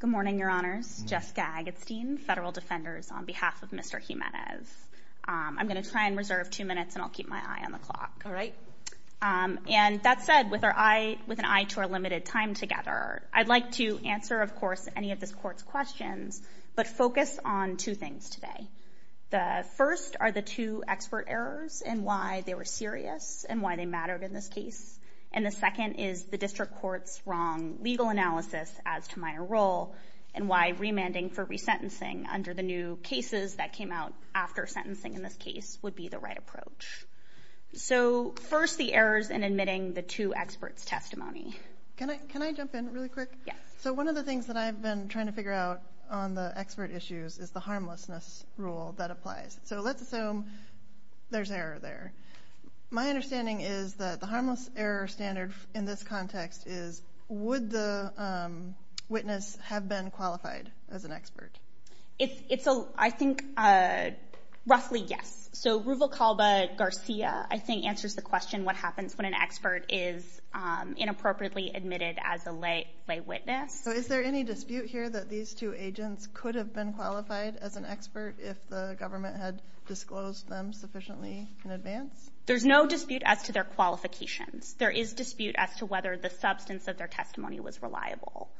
Good morning, Your Honors, Jess Gag, it's Dean, Federal Defenders, on behalf of Mr. Jimenez. I'm going to try and reserve two minutes and I'll keep my eye on the clock, all right? And that said, with an eye to our limited time together, I'd like to answer, of course, any of this Court's questions, but focus on two things today. The first are the two expert errors and why they were serious and why they mattered in this case. And the second is the District Court's wrong legal analysis as to minor role and why remanding for resentencing under the new cases that came out after sentencing in this case would be the right approach. So first, the errors in admitting the two experts' testimony. Can I jump in really quick? Yes. So one of the things that I've been trying to figure out on the expert issues is the rule that applies. So let's assume there's error there. My understanding is that the harmless error standard in this context is, would the witness have been qualified as an expert? I think roughly yes. So Ruvalcalba-Garcia, I think, answers the question, what happens when an expert is inappropriately admitted as a lay witness? So is there any dispute here that these two agents could have been qualified as an expert if the government had disclosed them sufficiently in advance? There's no dispute as to their qualifications. There is dispute as to whether the substance of their testimony was reliable.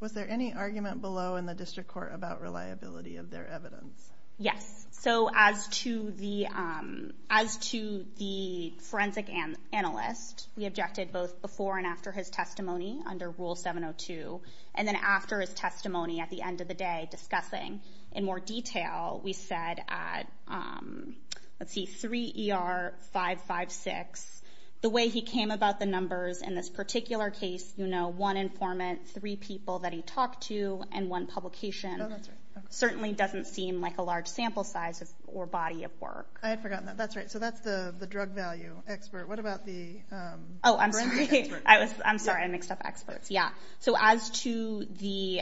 Was there any argument below in the District Court about reliability of their evidence? Yes. So as to the forensic analyst, we objected both before and after his testimony under Rule 702, and then after his testimony at the end of the day discussing in more detail, we said at, let's see, 3 ER 556, the way he came about the numbers in this particular case, you know, one informant, three people that he talked to, and one publication, certainly doesn't seem like a large sample size or body of work. I had forgotten that. That's right. So that's the drug value expert. What about the forensic expert? Oh, I'm sorry. I'm sorry. I mixed up experts. Yeah. So as to the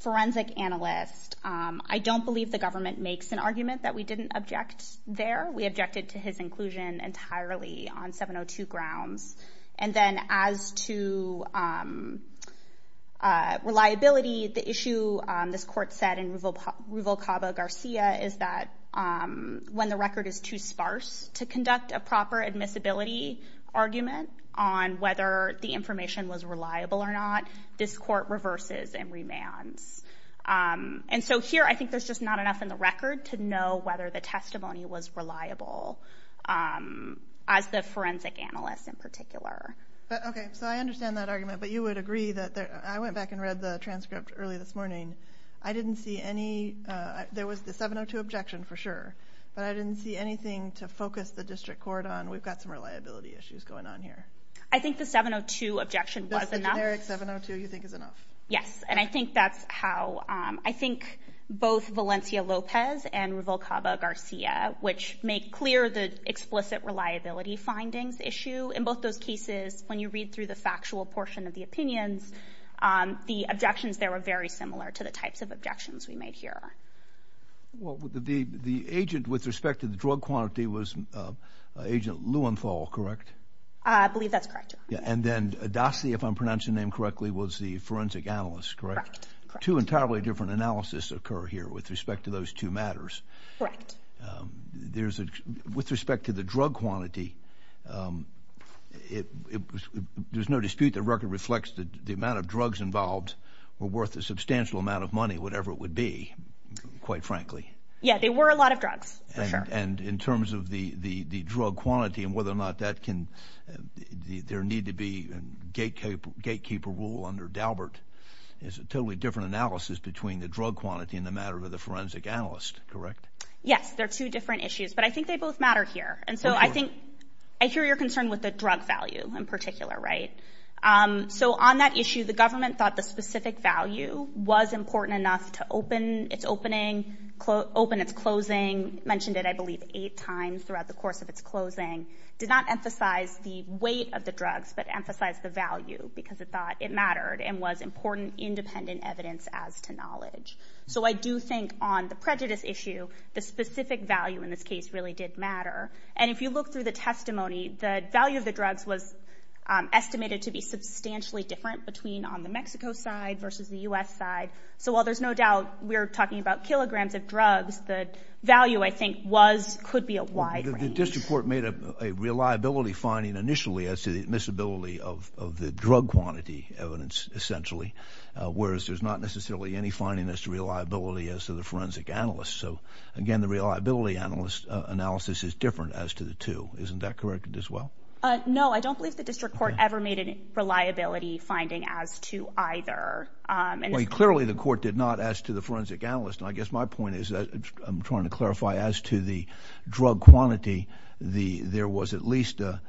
forensic analyst, I don't believe the government makes an argument that we didn't object there. We objected to his inclusion entirely on 702 grounds. And then as to reliability, the issue this court said in Ruvalcaba Garcia is that when the record is too sparse to conduct a proper admissibility argument on whether the information was reliable or not, this court reverses and remands. And so here, I think there's just not enough in the record to know whether the testimony was reliable as the forensic analyst in particular. But, okay. So I understand that argument, but you would agree that there, I went back and read the transcript early this morning. I didn't see any, there was the 702 objection for sure, but I didn't see anything to focus the district court on. We've got some reliability issues going on here. I think the 702 objection was enough. Just the generic 702 you think is enough? Yes. And I think that's how, I think both Valencia Lopez and Ruvalcaba Garcia, which make clear the explicit reliability findings issue in both those cases, when you read through the factual portion of the opinions, the objections there were very similar to the types of objections we made here. Well, the agent with respect to the drug quantity was Agent Lewenthal, correct? I believe that's correct. Yeah. And then Adasi, if I'm pronouncing the name correctly, was the forensic analyst, correct? Correct. Correct. Two entirely different analysis occur here with respect to those two matters. Correct. There's a, with respect to the drug quantity, there's no dispute the record reflects the amount of drugs involved were worth a substantial amount of money, whatever it would be, quite frankly. Yeah. They were a lot of drugs, for sure. And in terms of the drug quantity and whether or not that can, there need to be gatekeeper rule under Daubert is a totally different analysis between the drug quantity and the matter of the forensic analyst, correct? Yes. They're two different issues, but I think they both matter here. And so I think, I hear your concern with the drug value in particular, right? So on that issue, the government thought the specific value was important enough to open its opening, open its closing, mentioned it, I believe, eight times throughout the course of its closing, did not emphasize the weight of the drugs, but emphasize the value because it thought it mattered and was important independent evidence as to knowledge. So I do think on the prejudice issue, the specific value in this case really did matter. And if you look through the testimony, the value of the drugs was estimated to be substantially different between on the Mexico side versus the U.S. side. So while there's no doubt we're talking about kilograms of drugs, the value I think was, could be a wide range. The district court made a reliability finding initially as to the admissibility of the drug quantity evidence, essentially, whereas there's not necessarily any finding as to reliability as to the forensic analyst. So again, the reliability analyst analysis is different as to the two, isn't that correct as well? No, I don't believe the district court ever made a reliability finding as to either. Clearly the court did not, as to the forensic analyst, and I guess my point is, I'm trying to clarify as to the drug quantity, there was at least a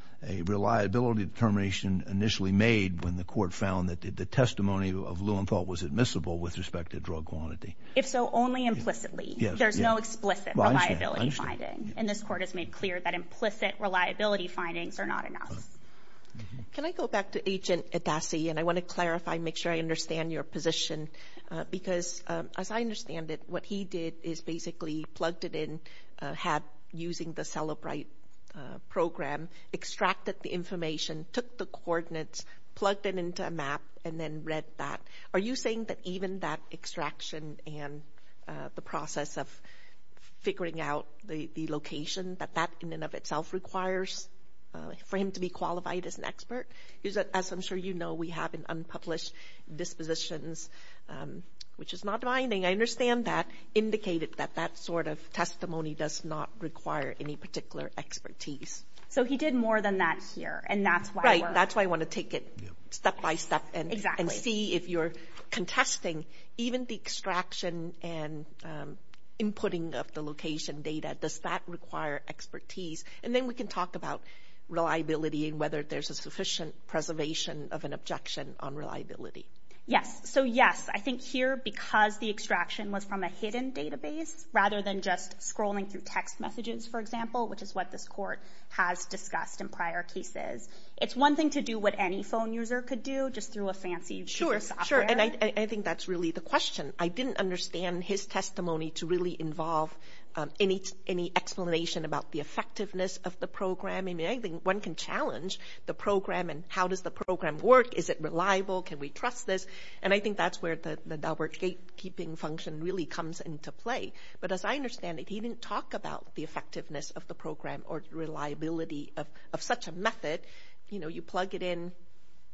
reliability determination initially made when the court found that the testimony of Luenthal was admissible with respect to drug quantity. If so, only implicitly. There's no explicit reliability finding, and this court has made clear that implicit reliability findings are not enough. Can I go back to Agent Adassi, and I want to clarify, make sure I understand your position, because as I understand it, what he did is basically plugged it in, had, using the Cellebrite program, extracted the information, took the coordinates, plugged it into a map, and then read that. Are you saying that even that extraction and the process of figuring out the location, that that in and of itself requires for him to be qualified as an expert? As I'm sure you know, we have an unpublished dispositions, which is not binding. I understand that indicated that that sort of testimony does not require any particular expertise. So he did more than that here, and that's why I want to take it step by step and see if you're contesting, even the extraction and inputting of the location data, does that require expertise? And then we can talk about reliability and whether there's a sufficient preservation of an objection on reliability. Yes. So yes, I think here, because the extraction was from a hidden database, rather than just scrolling through text messages, for example, which is what this court has discussed in prior cases, it's one thing to do what any phone user could do, just through a fancy user software. Sure. And I think that's really the question. I didn't understand his testimony to really involve any explanation about the effectiveness of the program. I mean, I think one can challenge the program and how does the program work? Is it reliable? Can we trust this? And I think that's where the Daubert gatekeeping function really comes into play. But as I understand it, he didn't talk about the effectiveness of the program or reliability of such a method. You know, you plug it in,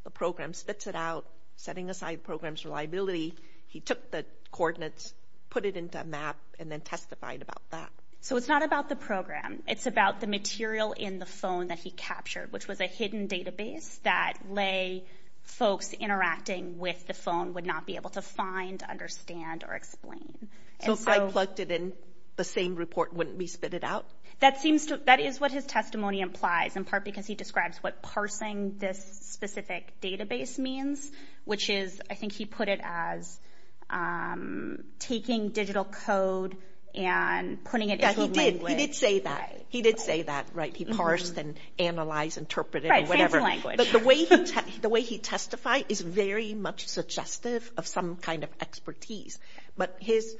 the program spits it out, setting aside program's reliability. He took the coordinates, put it into a map, and then testified about that. So it's not about the program. It's about the material in the phone that he captured, which was a hidden database that lay folks interacting with the phone would not be able to find, understand, or explain. So if I plugged it in, the same report wouldn't be spit it out? That seems to, that is what his testimony implies, in part because he describes what this specific database means, which is, I think he put it as taking digital code and putting it into a language. Yeah, he did. He did say that. He did say that. Right? He parsed and analyzed, interpreted, or whatever. Right, fancy language. But the way he testified is very much suggestive of some kind of expertise. But his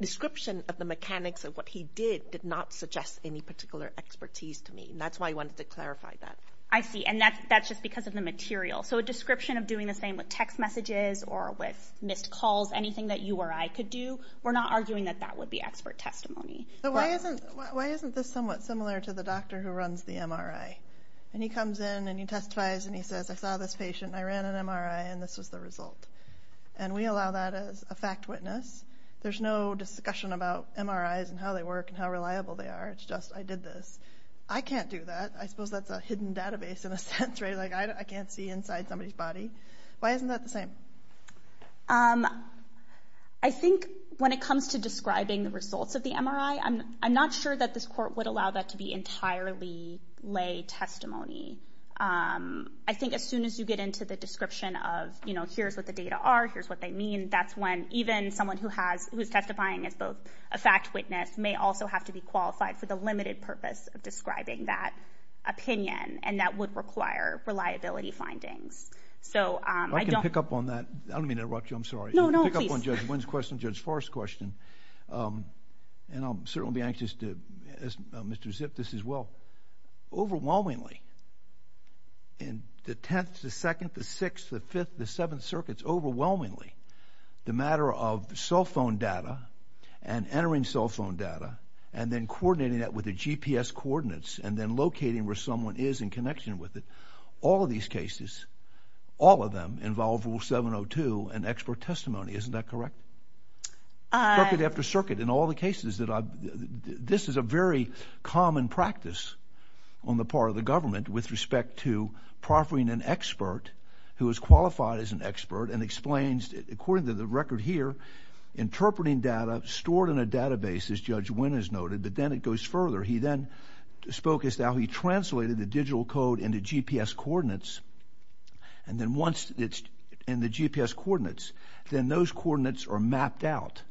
description of the mechanics of what he did did not suggest any particular expertise to me. And that's why I wanted to clarify that. I see. And that's just because of the material. So a description of doing the same with text messages or with missed calls, anything that you or I could do, we're not arguing that that would be expert testimony. But why isn't, why isn't this somewhat similar to the doctor who runs the MRI? And he comes in and he testifies and he says, I saw this patient and I ran an MRI and this was the result. And we allow that as a fact witness. There's no discussion about MRIs and how they work and how reliable they are. It's just, I did this. I can't do that. I suppose that's a hidden database in a sense, right? Like I can't see inside somebody's body. Why isn't that the same? I think when it comes to describing the results of the MRI, I'm not sure that this court would allow that to be entirely lay testimony. I think as soon as you get into the description of, you know, here's what the data are, here's what they mean, that's when even someone who has, who's testifying as both a fact witness may also have to be qualified for the limited purpose of describing that opinion. And that would require reliability findings. So I don't. I can pick up on that. I don't mean to interrupt you. I'm sorry. No, no, please. Pick up on Judge Wynn's question, Judge Forrest's question. And I'll certainly be anxious to, as Mr. Zipf, this as well. Overwhelmingly, in the 10th, the 2nd, the 6th, the 5th, the 7th circuits, overwhelmingly, the matter of cell phone data and entering cell phone data and then coordinating that with the GPS coordinates and then locating where someone is in connection with it, all of these cases, all of them involve Rule 702 and expert testimony. Isn't that correct? Circuit after circuit in all the cases that I've, this is a very common practice on the part of the government with respect to proffering an expert who is qualified as an expert and explains, according to the record here, interpreting data stored in a database, as Judge Wynn has noted, but then it goes further. He then spoke as to how he translated the digital code into GPS coordinates. And then once it's in the GPS coordinates, then those coordinates are mapped out.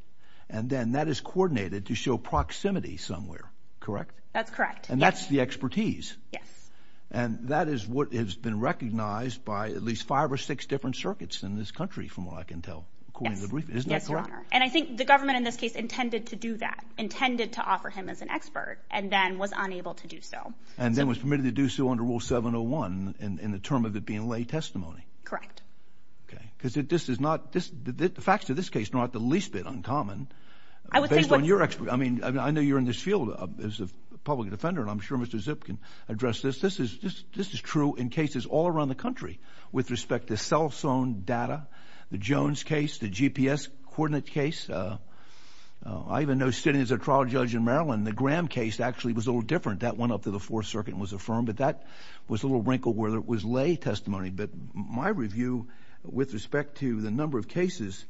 And then that is coordinated to show proximity somewhere. Correct? That's correct. And that's the expertise. Yes. And that is what has been recognized by at least five or six different circuits in this country, from what I can tell. Yes. According to the brief. Isn't that correct? Yes, Your Honor. And I think the government, in this case, intended to do that. Intended to offer him as an expert and then was unable to do so. And then was permitted to do so under Rule 701 in the term of it being lay testimony. Correct. Okay. Because this is not, the facts of this case are not the least bit uncommon, based on your expertise. I mean, I know you're in this field as a public defender and I'm sure Mr. Zip can address this. But this is true in cases all around the country, with respect to cell phone data, the Jones case, the GPS coordinate case. I even know sitting as a trial judge in Maryland, the Graham case actually was a little different. That went up to the Fourth Circuit and was affirmed. But that was a little wrinkle where it was lay testimony. But my review, with respect to the number of cases,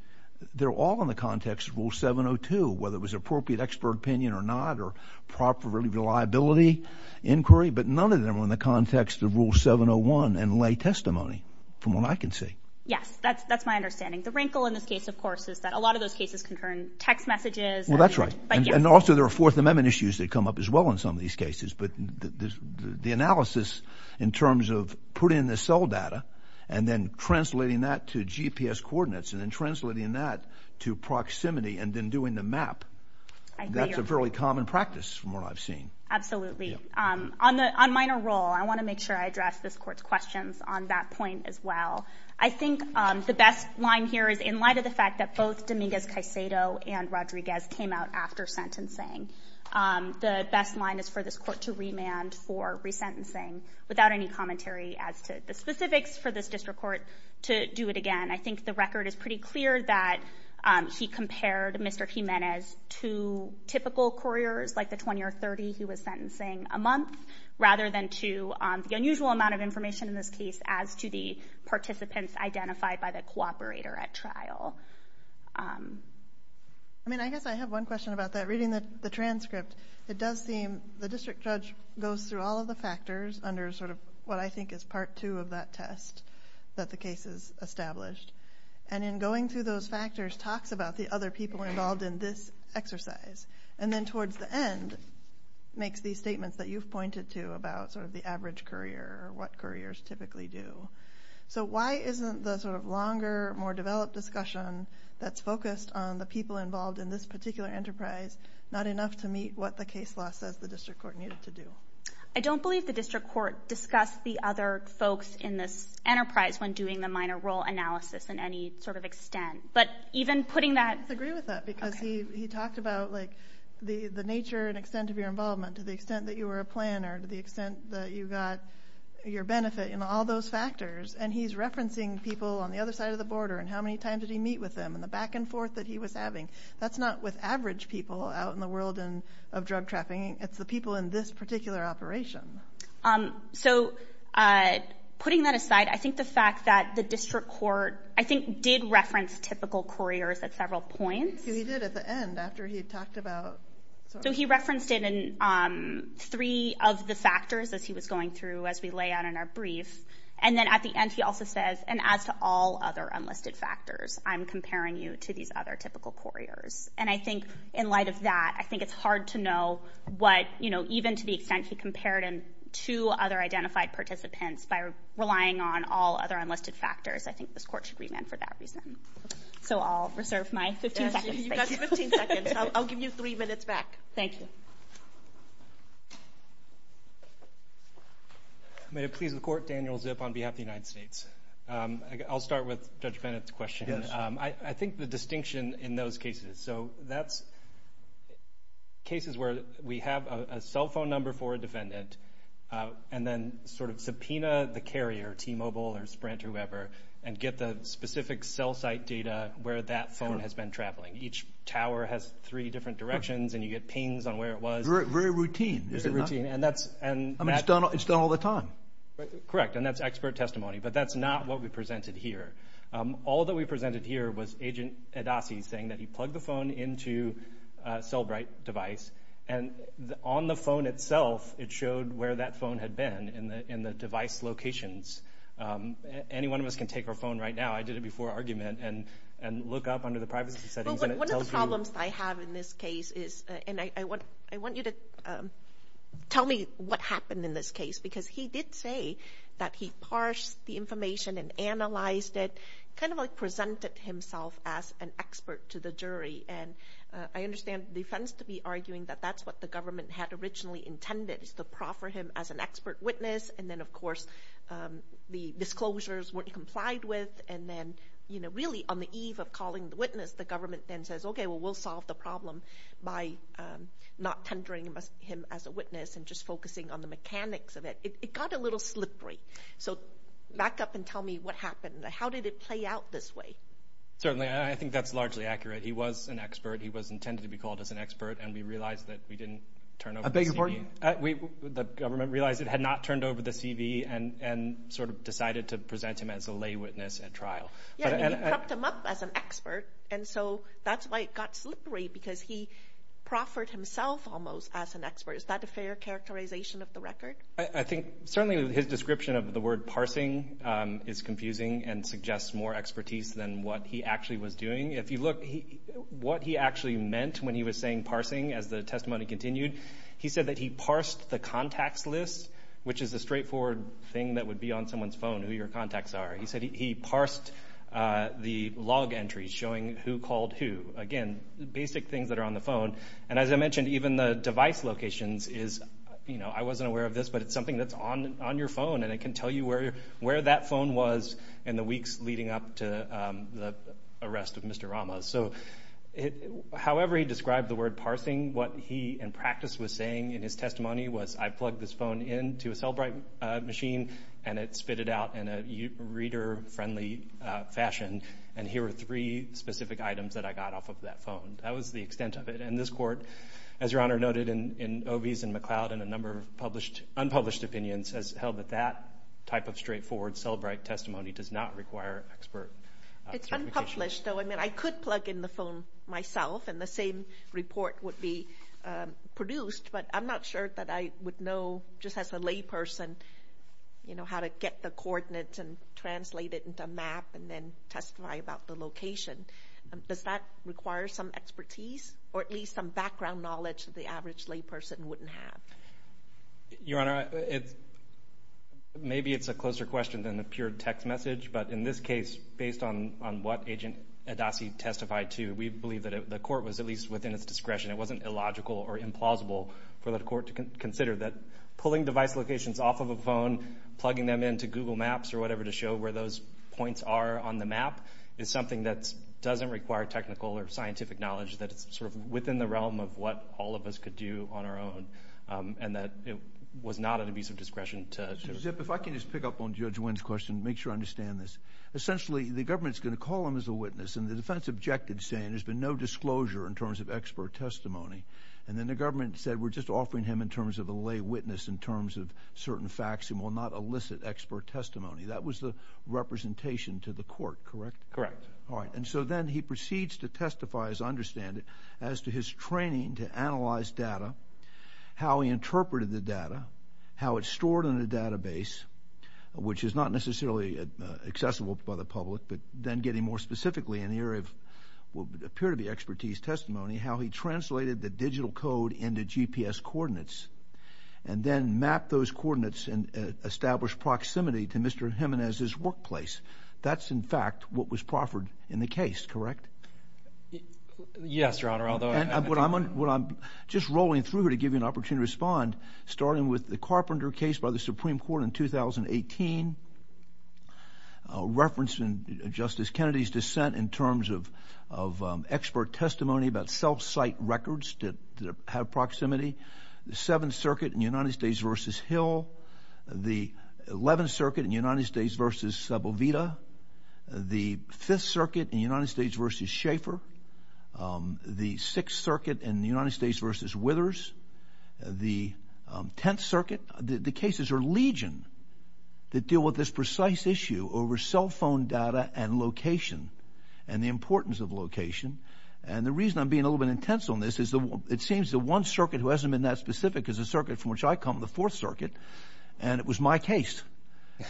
they're all in the context of Rule 702, whether it was appropriate expert opinion or not, or proper reliability inquiry. But none of them were in the context of Rule 701 and lay testimony, from what I can see. Yes. That's my understanding. The wrinkle in this case, of course, is that a lot of those cases concern text messages. Well, that's right. And also there are Fourth Amendment issues that come up as well in some of these cases. But the analysis in terms of putting the cell data and then translating that to GPS coordinates and then translating that to proximity and then doing the map, that's a fairly common practice from what I've seen. Absolutely. On minor role, I want to make sure I address this Court's questions on that point as well. I think the best line here is in light of the fact that both Dominguez-Caicedo and Rodriguez came out after sentencing, the best line is for this Court to remand for resentencing without any commentary as to the specifics for this district court to do it again. I think the record is pretty clear that he compared Mr. Jimenez to typical couriers, like the 20 or 30 he was sentencing a month, rather than to the unusual amount of information in this case as to the participants identified by the cooperator at trial. I mean, I guess I have one question about that. Reading the transcript, it does seem the district judge goes through all of the factors under sort of what I think is Part 2 of that test that the case has established. And in going through those factors, talks about the other people involved in this exercise. And then towards the end, makes these statements that you've pointed to about sort of the average courier or what couriers typically do. So why isn't the sort of longer, more developed discussion that's focused on the people involved in this particular enterprise not enough to meet what the case law says the district court needed to do? I don't believe the district court discussed the other folks in this enterprise when doing the minor role analysis in any sort of extent. But even putting that... He talked about like the nature and extent of your involvement, to the extent that you were a planner, to the extent that you got your benefit, and all those factors. And he's referencing people on the other side of the border, and how many times did he meet with them, and the back and forth that he was having. That's not with average people out in the world of drug trapping. It's the people in this particular operation. So putting that aside, I think the fact that the district court, I think, did reference typical couriers at several points. Because he did at the end, after he had talked about... So he referenced it in three of the factors as he was going through, as we lay out in our brief. And then at the end, he also says, and as to all other unlisted factors, I'm comparing you to these other typical couriers. And I think in light of that, I think it's hard to know what, you know, even to the extent he compared him to other identified participants by relying on all other unlisted factors, I think this court should remand for that reason. So I'll reserve my 15 seconds. You've got 15 seconds. I'll give you three minutes back. Thank you. May it please the court, Daniel Zip on behalf of the United States. I'll start with Judge Bennett's question. I think the distinction in those cases, so that's cases where we have a cell phone number for a defendant, and then sort of subpoena the carrier, T-Mobile or Sprint, whoever, and get the specific cell site data where that phone has been traveling. Each tower has three different directions, and you get pings on where it was. Very routine, is it not? Very routine. And that's... I mean, it's done all the time. Correct. And that's expert testimony. But that's not what we presented here. All that we presented here was Agent Adasi saying that he plugged the phone into a Cellbrite device, and on the phone itself, it showed where that phone had been in the device locations. Any one of us can take our phone right now, I did it before argument, and look up under the privacy settings, and it tells you... Well, one of the problems I have in this case is, and I want you to tell me what happened in this case, because he did say that he parsed the information and analyzed it, kind of like presented himself as an expert to the jury, and I understand the defense to be arguing that that's what the government had originally intended, is to proffer him as an expert witness, and then, of course, the disclosures weren't complied with, and then, you know, really, on the eve of calling the witness, the government then says, okay, well, we'll solve the problem by not tendering him as a witness and just focusing on the mechanics of it. It got a little slippery. So back up and tell me what happened. How did it play out this way? Certainly. I think that's largely accurate. He was an expert. He was intended to be called as an expert, and we realized that we didn't turn over the CD. I beg your pardon? The government realized it had not turned over the CD and sort of decided to present him as a lay witness at trial. Yeah, and he prepped him up as an expert, and so that's why it got slippery, because he proffered himself almost as an expert. Is that a fair characterization of the record? I think certainly his description of the word parsing is confusing and suggests more expertise than what he actually was doing. If you look, what he actually meant when he was saying parsing, as the testimony continued, he said that he parsed the contacts list, which is a straightforward thing that would be on someone's phone, who your contacts are. He said he parsed the log entries showing who called who. Again, basic things that are on the phone. And as I mentioned, even the device locations is, you know, I wasn't aware of this, but it's something that's on your phone, and it can tell you where that phone was in the weeks leading up to the arrest of Mr. Rama. So, however he described the word parsing, what he in practice was saying in his testimony was I plugged this phone into a Cellbrite machine, and it spit it out in a reader-friendly fashion, and here are three specific items that I got off of that phone. That was the extent of it. And this court, as Your Honor noted, in Obies and McLeod and a number of unpublished opinions has held that that type of straightforward Cellbrite testimony does not require expert certification. It's unpublished, though. I mean, I could plug in the phone myself, and the same report would be produced, but I'm not sure that I would know, just as a layperson, you know, how to get the coordinates and translate it into a map and then testify about the location. Does that require some expertise or at least some background knowledge that the average layperson wouldn't have? Your Honor, maybe it's a closer question than a pure text message, but in this case, based on what Agent Adasi testified to, we believe that the court was at least within its discretion. It wasn't illogical or implausible for the court to consider that pulling device locations off of a phone, plugging them into Google Maps or whatever to show where those points are on the map is something that doesn't require technical or scientific knowledge, that it's sort of within the realm of what all of us could do on our own, and that it was not an abuse of discretion to... Mr. Zipp, if I can just pick up on Judge Wynn's question, make sure I understand this. Essentially, the government's going to call him as a witness, and the defense objected saying there's been no disclosure in terms of expert testimony, and then the government said we're just offering him in terms of a lay witness in terms of certain facts and will not elicit expert testimony. That was the representation to the court, correct? Correct. All right, and so then he proceeds to testify, as I understand it, as to his training to analyze data, how he interpreted the data, how it's stored in a database, which is not necessarily accessible by the public, but then getting more specifically in the area of what would appear to be expertise testimony, how he translated the digital code into GPS coordinates and then mapped those coordinates and established proximity to Mr. Jimenez's workplace. That's in fact what was proffered in the case, correct? Yes, Your Honor, although... What I'm just rolling through here to give you an opportunity to respond, starting with the Carpenter case by the Supreme Court in 2018, referencing Justice Kennedy's dissent in terms of expert testimony about self-cite records that have proximity, the 7th Circuit in United States v. Hill, the 11th Circuit in United States v. Sebelveda, the 5th Circuit in United States v. Schaeffer, the 6th Circuit in United States v. Withers, the 10th Circuit. The cases are legion that deal with this precise issue over cell phone data and location and the importance of location, and the reason I'm being a little bit intense on this is it seems the one circuit who hasn't been that specific is the circuit from which I come, the 4th Circuit, and it was my case,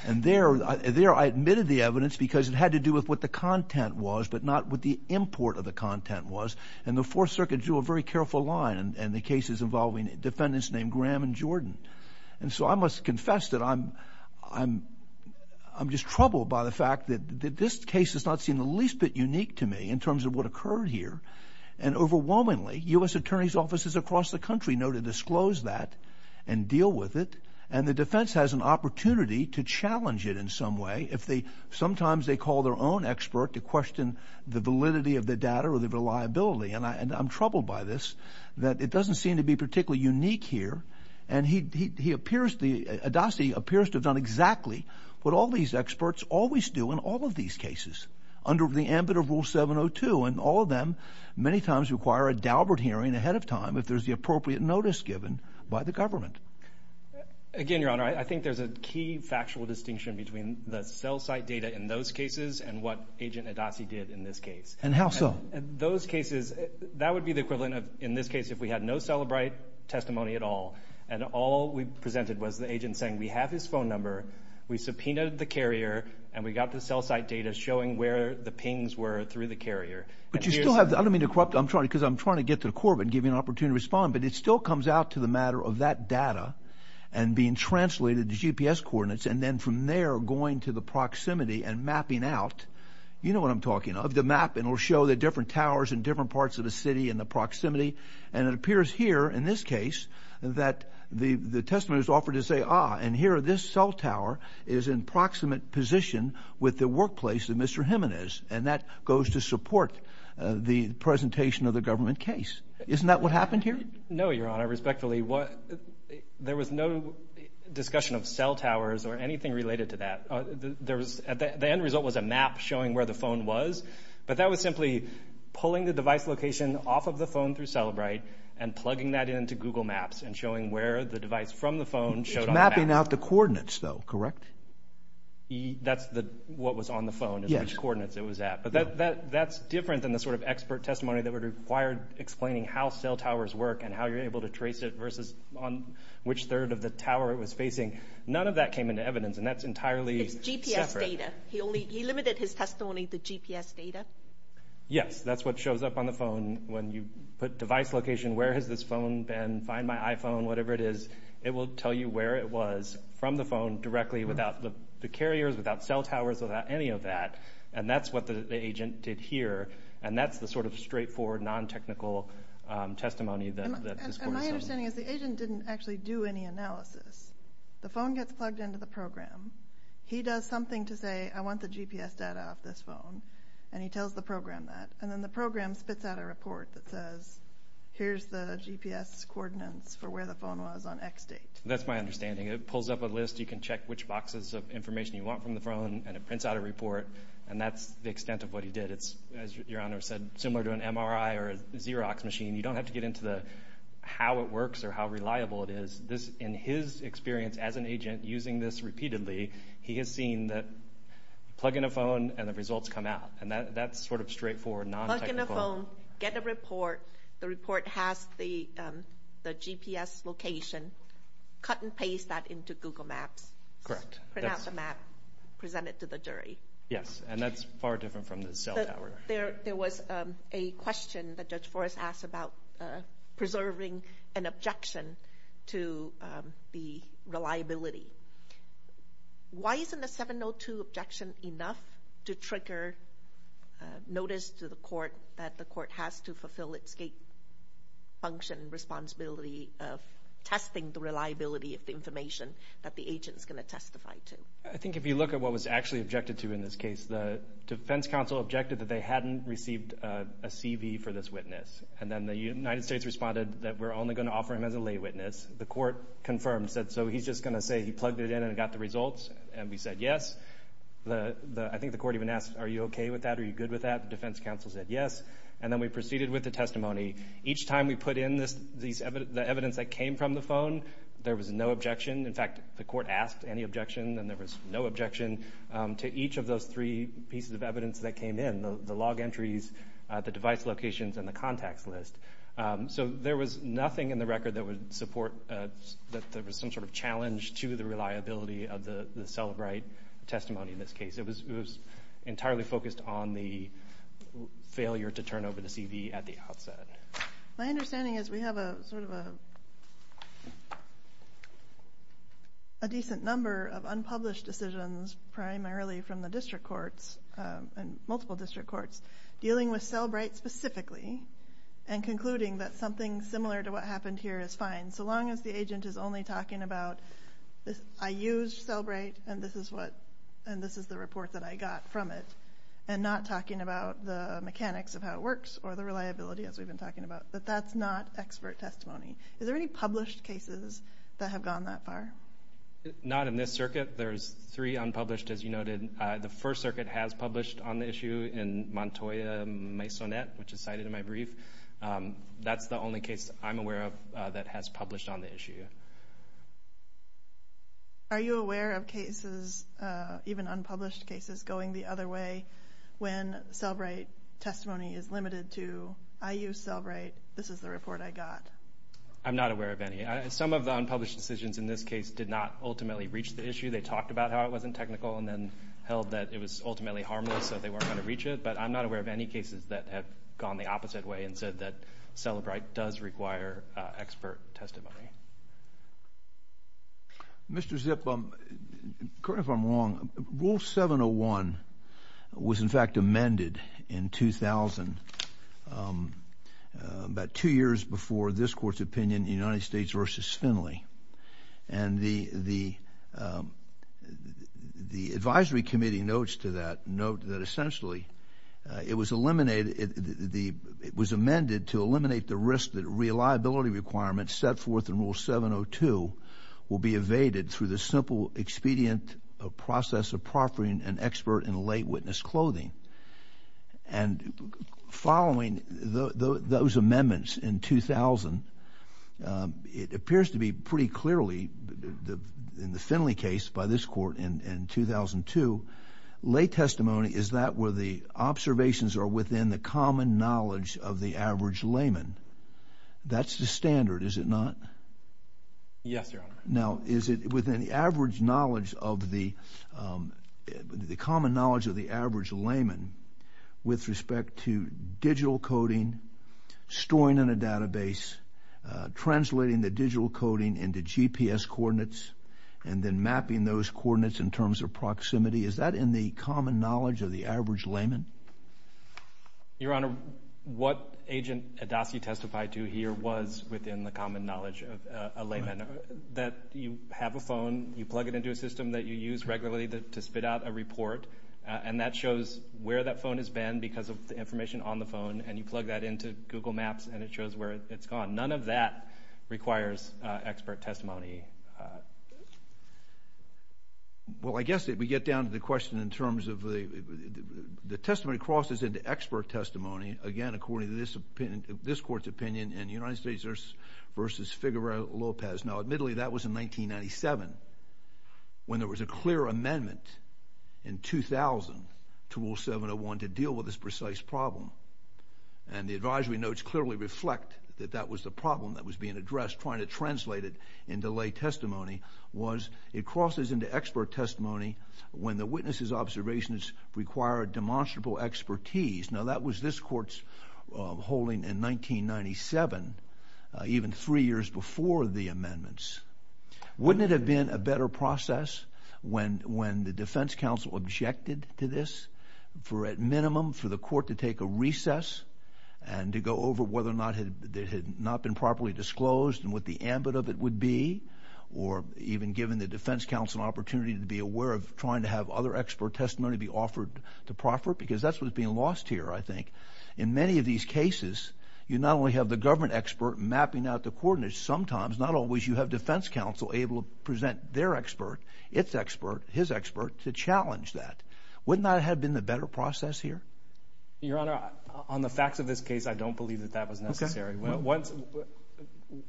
and there I admitted the evidence because it had to do with what the content was, but not what the import of the content was, and the 4th Circuit drew a very careful line in the cases involving defendants named Graham and Jordan, and so I must confess that I'm just troubled by the fact that this case has not seen the least bit unique to me in terms of what occurred here, and overwhelmingly, U.S. Attorney's offices across the country know to disclose that and deal with it, and the defense has an opportunity to challenge it in some way. Sometimes they call their own expert to question the validity of the data or the reliability, and I'm troubled by this, that it doesn't seem to be particularly unique here, and Adasi appears to have done exactly what all these experts always do in all of these cases under the ambit of Rule 702, and all of them many times require a dalbert hearing ahead of time if there's the appropriate notice given by the government. Again, Your Honor, I think there's a key factual distinction between the cell site data in those cases and what Agent Adasi did in this case. And how so? Those cases, that would be the equivalent of, in this case, if we had no Cellebrite testimony at all, and all we presented was the agent saying, we have his phone number, we subpoenaed the carrier, and we got the cell site data showing where the pings were through the carrier. But you still have, I don't mean to corrupt, I'm trying, because I'm trying to get to the court, but give you an opportunity to respond, but it still comes out to the matter of that data and being translated to GPS coordinates, and then from there, going to the proximity and mapping out, you know what I'm talking about, the map, and it'll show the different towers in different parts of the city and the proximity, and it appears here, in this case, that the testimony was offered to say, ah, and here, this cell tower is in proximate position with the workplace that Mr. Heman is, and that goes to support the presentation of the government case. Isn't that what happened here? No, Your Honor, respectfully, there was no discussion of cell towers or anything related to that. There was, the end result was a map showing where the phone was, but that was simply pulling the device location off of the phone through Celebrite and plugging that into Google Maps and showing where the device from the phone showed on the map. It's mapping out the coordinates, though, correct? That's what was on the phone, which coordinates it was at, but that's different than the sort of expert testimony that would require explaining how cell towers work and how you're able to trace it versus on which third of the tower it was facing. None of that came into evidence, and that's entirely separate. It's GPS data. He only, he limited his testimony to GPS data? Yes, that's what shows up on the phone when you put device location, where has this phone been, find my iPhone, whatever it is, it will tell you where it was from the phone directly without the carriers, without cell towers, without any of that, and that's what the agent did here, and that's the sort of straightforward, non-technical testimony that this court is suing. And my understanding is the agent didn't actually do any analysis. The phone gets plugged into the program. He does something to say, I want the GPS data off this phone, and he tells the program that, and then the program spits out a report that says, here's the GPS coordinates for where the phone was on X date. That's my understanding. It pulls up a list. And that's the extent of what he did. It's, as Your Honor said, similar to an MRI or a Xerox machine. You don't have to get into the how it works or how reliable it is. In his experience as an agent using this repeatedly, he has seen that plug in a phone and the results come out, and that's sort of straightforward, non-technical. Plug in a phone, get a report, the report has the GPS location, cut and paste that into Google Maps. Correct. Print out the map, present it to the jury. Yes. And that's far different from the cell tower. There was a question that Judge Forrest asked about preserving an objection to the reliability. Why isn't the 702 objection enough to trigger notice to the court that the court has to fulfill its function, responsibility of testing the reliability of the information that the agent is going to testify to? I think if you look at what was actually objected to in this case, the defense counsel objected that they hadn't received a CV for this witness. And then the United States responded that we're only going to offer him as a lay witness. The court confirmed, said, so he's just going to say he plugged it in and got the results. And we said yes. I think the court even asked, are you okay with that? Are you good with that? The defense counsel said yes. And then we proceeded with the testimony. Each time we put in the evidence that came from the phone, there was no objection. In fact, the court asked any objection, and there was no objection to each of those three pieces of evidence that came in, the log entries, the device locations, and the contacts list. So there was nothing in the record that would support that there was some sort of challenge to the reliability of the Cellebrite testimony in this case. It was entirely focused on the failure to turn over the CV at the outset. My understanding is we have a sort of a decent number of unpublished decisions, primarily from the district courts and multiple district courts, dealing with Cellebrite specifically and concluding that something similar to what happened here is fine, so long as the agent is only talking about, I used Cellebrite, and this is the report that I got from it, and not talking about the mechanics of how it works or the reliability, as we've been talking about. But that's not expert testimony. Is there any published cases that have gone that far? Not in this circuit. There's three unpublished, as you noted. The First Circuit has published on the issue in Montoya-Maisonette, which is cited in my brief. That's the only case I'm aware of that has published on the issue. Are you aware of cases, even unpublished cases, going the other way when Cellebrite testimony is limited to, I used Cellebrite, this is the report I got? I'm not aware of any. Some of the unpublished decisions in this case did not ultimately reach the issue. They talked about how it wasn't technical and then held that it was ultimately harmless, so they weren't going to reach it. But I'm not aware of any cases that have gone the opposite way and said that Cellebrite does require expert testimony. Mr. Zip, correct me if I'm wrong, Rule 701 was in fact amended in 2000, about two years before this Court's opinion, United States v. Finley. And the advisory committee notes to that note that essentially it was amended to eliminate the risk that reliability requirements set forth in Rule 702 will be evaded through the simple expedient process of proffering an expert in lay witness clothing. And following those amendments in 2000, it appears to be pretty clearly in the Finley case by this Court in 2002, lay testimony is that where the observations are within the common knowledge of the average layman. That's the standard, is it not? Yes, Your Honor. Now is it within the common knowledge of the average layman with respect to digital coding, storing in a database, translating the digital coding into GPS coordinates, and then mapping those coordinates in terms of proximity, is that in the common knowledge of the average layman? Your Honor, what Agent Adoskey testified to here was within the common knowledge of a layman. That you have a phone, you plug it into a system that you use regularly to spit out a report, and that shows where that phone has been because of the information on the phone, and you plug that into Google Maps and it shows where it's gone. None of that requires expert testimony. Well, I guess if we get down to the question in terms of the testimony crosses into expert testimony, again, according to this Court's opinion in United States v. Figueroa Lopez. Now, admittedly, that was in 1997 when there was a clear amendment in 2000 to Rule 701 to deal with this precise problem. And the advisory notes clearly reflect that that was the problem that was being addressed, trying to translate it into lay testimony, was it crosses into expert testimony when the witnesses' observations require demonstrable expertise. Now, that was this Court's holding in 1997, even three years before the amendments. Wouldn't it have been a better process when the Defense Counsel objected to this, for at minimum for the Court to take a recess and to go over whether or not it had not been properly disclosed and what the ambit of it would be, or even given the Defense Counsel an opportunity to be aware of trying to have other expert testimony be offered to proffer? Because that's what's being lost here, I think. In many of these cases, you not only have the government expert mapping out the coordinates, sometimes, not always, you have Defense Counsel able to present their expert, its expert, his expert, to challenge that. Wouldn't that have been the better process here? Your Honor, on the facts of this case, I don't believe that that was necessary. Well, once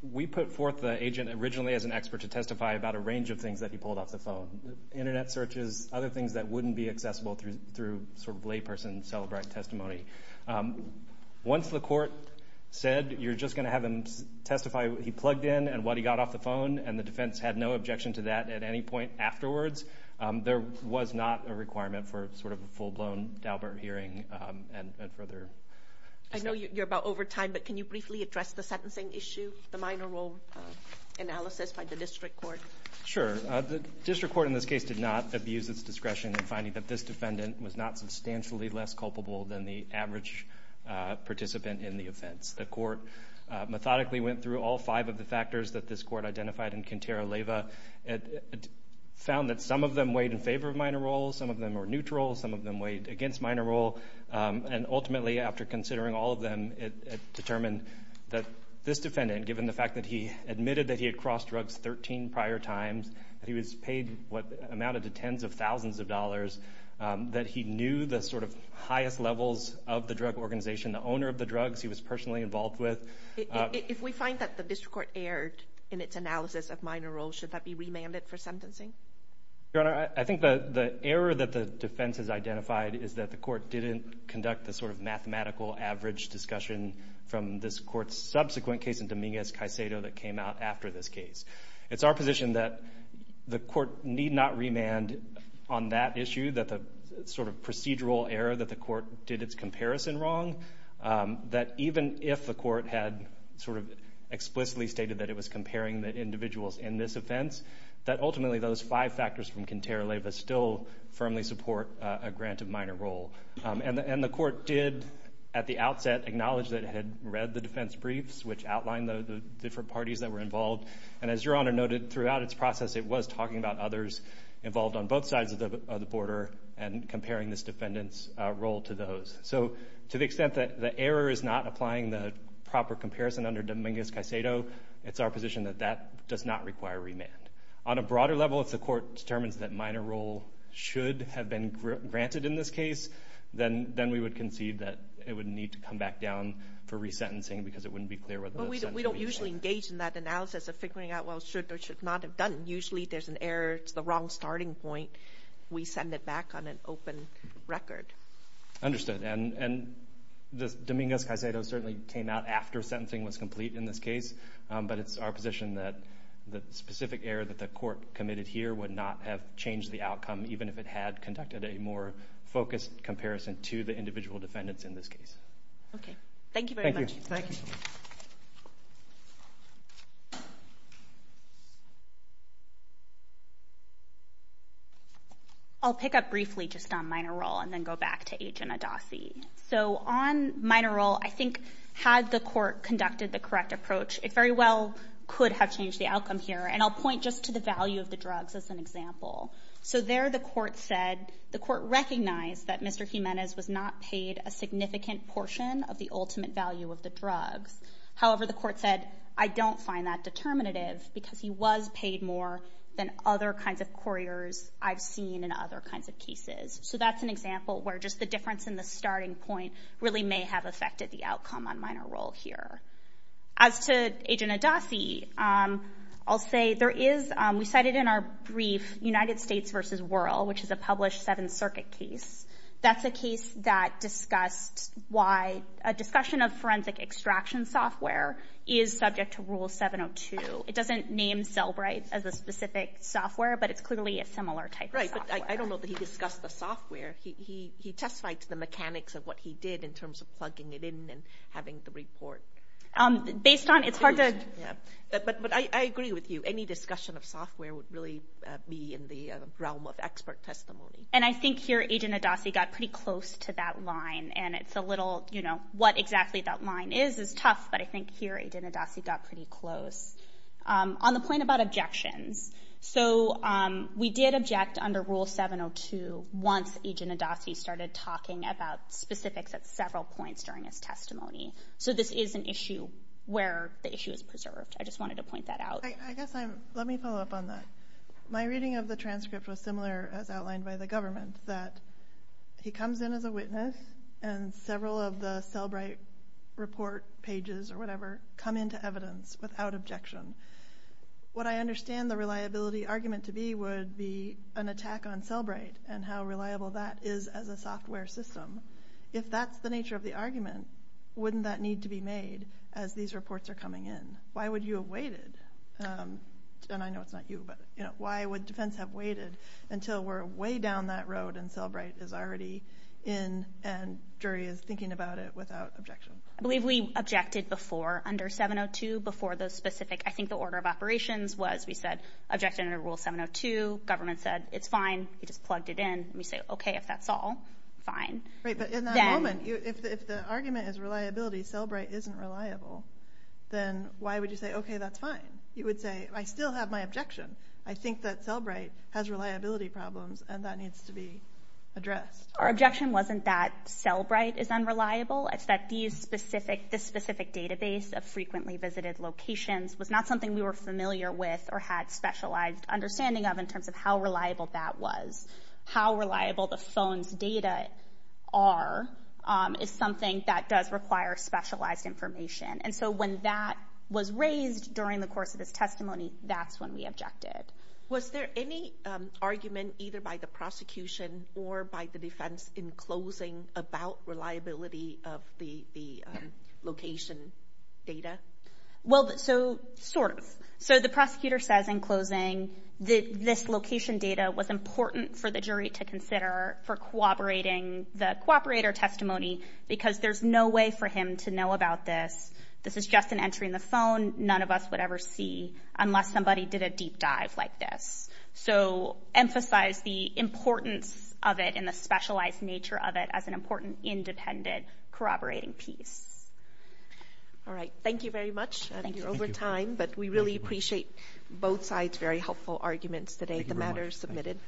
we put forth the agent originally as an expert to testify about a range of things that he pulled off the phone, internet searches, other things that wouldn't be accessible through sort of layperson-celebrant testimony. Once the Court said, you're just going to have him testify what he plugged in and what he got off the phone, and the Defense had no objection to that at any point afterwards, there was not a requirement for sort of a full-blown Daubert hearing and further... I know you're about over time, but can you briefly address the sentencing issue, the minor role analysis by the District Court? Sure. The District Court in this case did not abuse its discretion in finding that this defendant was not substantially less culpable than the average participant in the offense. The Court methodically went through all five of the factors that this Court identified in Quintero-Leva. It found that some of them weighed in favor of minor role, some of them were neutral, some of them weighed against minor role, and ultimately, after considering all of them, it determined that this defendant, given the fact that he admitted that he had crossed drugs 13 prior times, that he was paid what amounted to tens of thousands of dollars, that he knew the sort of highest levels of the drug organization, the owner of the drugs he was personally involved with. If we find that the District Court erred in its analysis of minor role, should that be remanded for sentencing? Your Honor, I think the error that the defense has identified is that the Court didn't conduct the sort of mathematical average discussion from this Court's subsequent case in Dominguez-Caicedo that came out after this case. It's our position that the Court need not remand on that issue, that the sort of procedural error that the Court did its comparison wrong, that even if the Court had sort of explicitly stated that it was comparing the individuals in this offense, that ultimately those five factors from Quintero-Leyva still firmly support a grant of minor role. And the Court did, at the outset, acknowledge that it had read the defense briefs, which outlined the different parties that were involved. And as Your Honor noted, throughout its process, it was talking about others involved on both sides of the border and comparing this defendant's role to those. So to the extent that the error is not applying the proper comparison under Dominguez-Caicedo, it's our position that that does not require remand. On a broader level, if the Court determines that minor role should have been granted in this case, then we would concede that it would need to come back down for resentencing because it wouldn't be clear whether the sentence would be granted. But we don't usually engage in that analysis of figuring out, well, should or should not have done. Usually, there's an error, it's the wrong starting point, we send it back on an open record. Understood. And Dominguez-Caicedo certainly came out after sentencing was complete in this case, but it's our position that the specific error that the Court committed here would not have changed the outcome, even if it had conducted a more focused comparison to the individual defendants in this case. Okay. Thank you very much. Thank you. Thank you. I'll pick up briefly just on minor role and then go back to Agent Adasi. So on minor role, I think had the Court conducted the correct approach, it very well could have changed the outcome here, and I'll point just to the value of the drugs as an example. So there the Court said, the Court recognized that Mr. Jimenez was not paid a significant portion of the ultimate value of the drugs. However, the Court said, I don't find that determinative because he was paid more than other kinds of couriers I've seen in other kinds of cases. So that's an example where just the difference in the starting point really may have affected the outcome on minor role here. As to Agent Adasi, I'll say there is, we cited in our brief, United States v. Wuerl, which is a published Seventh Circuit case. That's a case that discussed why a discussion of forensic extraction software is subject to Rule 702. It doesn't name Cellbrite as a specific software, but it's clearly a similar type of software. Right. But I don't know that he discussed the software. He testified to the mechanics of what he did in terms of plugging it in and having the report... Based on... It's hard to... Yeah. But I agree with you. Any discussion of software would really be in the realm of expert testimony. And I think here, Agent Adasi got pretty close to that line, and it's a little... What exactly that line is, is tough, but I think here, Agent Adasi got pretty close. On the point about objections, so we did object under Rule 702 once Agent Adasi started talking about specifics at several points during his testimony. So this is an issue where the issue is preserved. I just wanted to point that out. I guess I'm... Let me follow up on that. My reading of the transcript was similar, as outlined by the government, that he comes in as a witness, and several of the Cellbrite report pages, or whatever, come into evidence without objection. What I understand the reliability argument to be would be an attack on Cellbrite, and how reliable that is as a software system. If that's the nature of the argument, wouldn't that need to be made as these reports are coming in? Why would you have waited? And I know it's not you, but why would defense have waited until we're way down that road and Cellbrite is already in, and jury is thinking about it without objection? I believe we objected before, under 702, before those specific... I think the order of operations was, we said, objected under Rule 702, government said, it's fine, we just plugged it in, and we say, okay, if that's all, fine. Right, but in that moment, if the argument is reliability, Cellbrite isn't reliable, then why would you say, okay, that's fine? You would say, I still have my objection. I think that Cellbrite has reliability problems, and that needs to be addressed. Our objection wasn't that Cellbrite is unreliable, it's that this specific database of frequently visited locations was not something we were familiar with, or had specialized understanding of in terms of how reliable that was. It's something that does require specialized information, and so when that was raised during the course of this testimony, that's when we objected. Was there any argument either by the prosecution or by the defense in closing about reliability of the location data? Well, so, sort of. So the prosecutor says in closing that this location data was important for the jury to take their testimony because there's no way for him to know about this. This is just an entry in the phone none of us would ever see unless somebody did a deep dive like this. So emphasize the importance of it and the specialized nature of it as an important independent corroborating piece. All right, thank you very much. Thank you. You're over time, but we really appreciate both sides' very helpful arguments today. Thank you very much. The matter is submitted.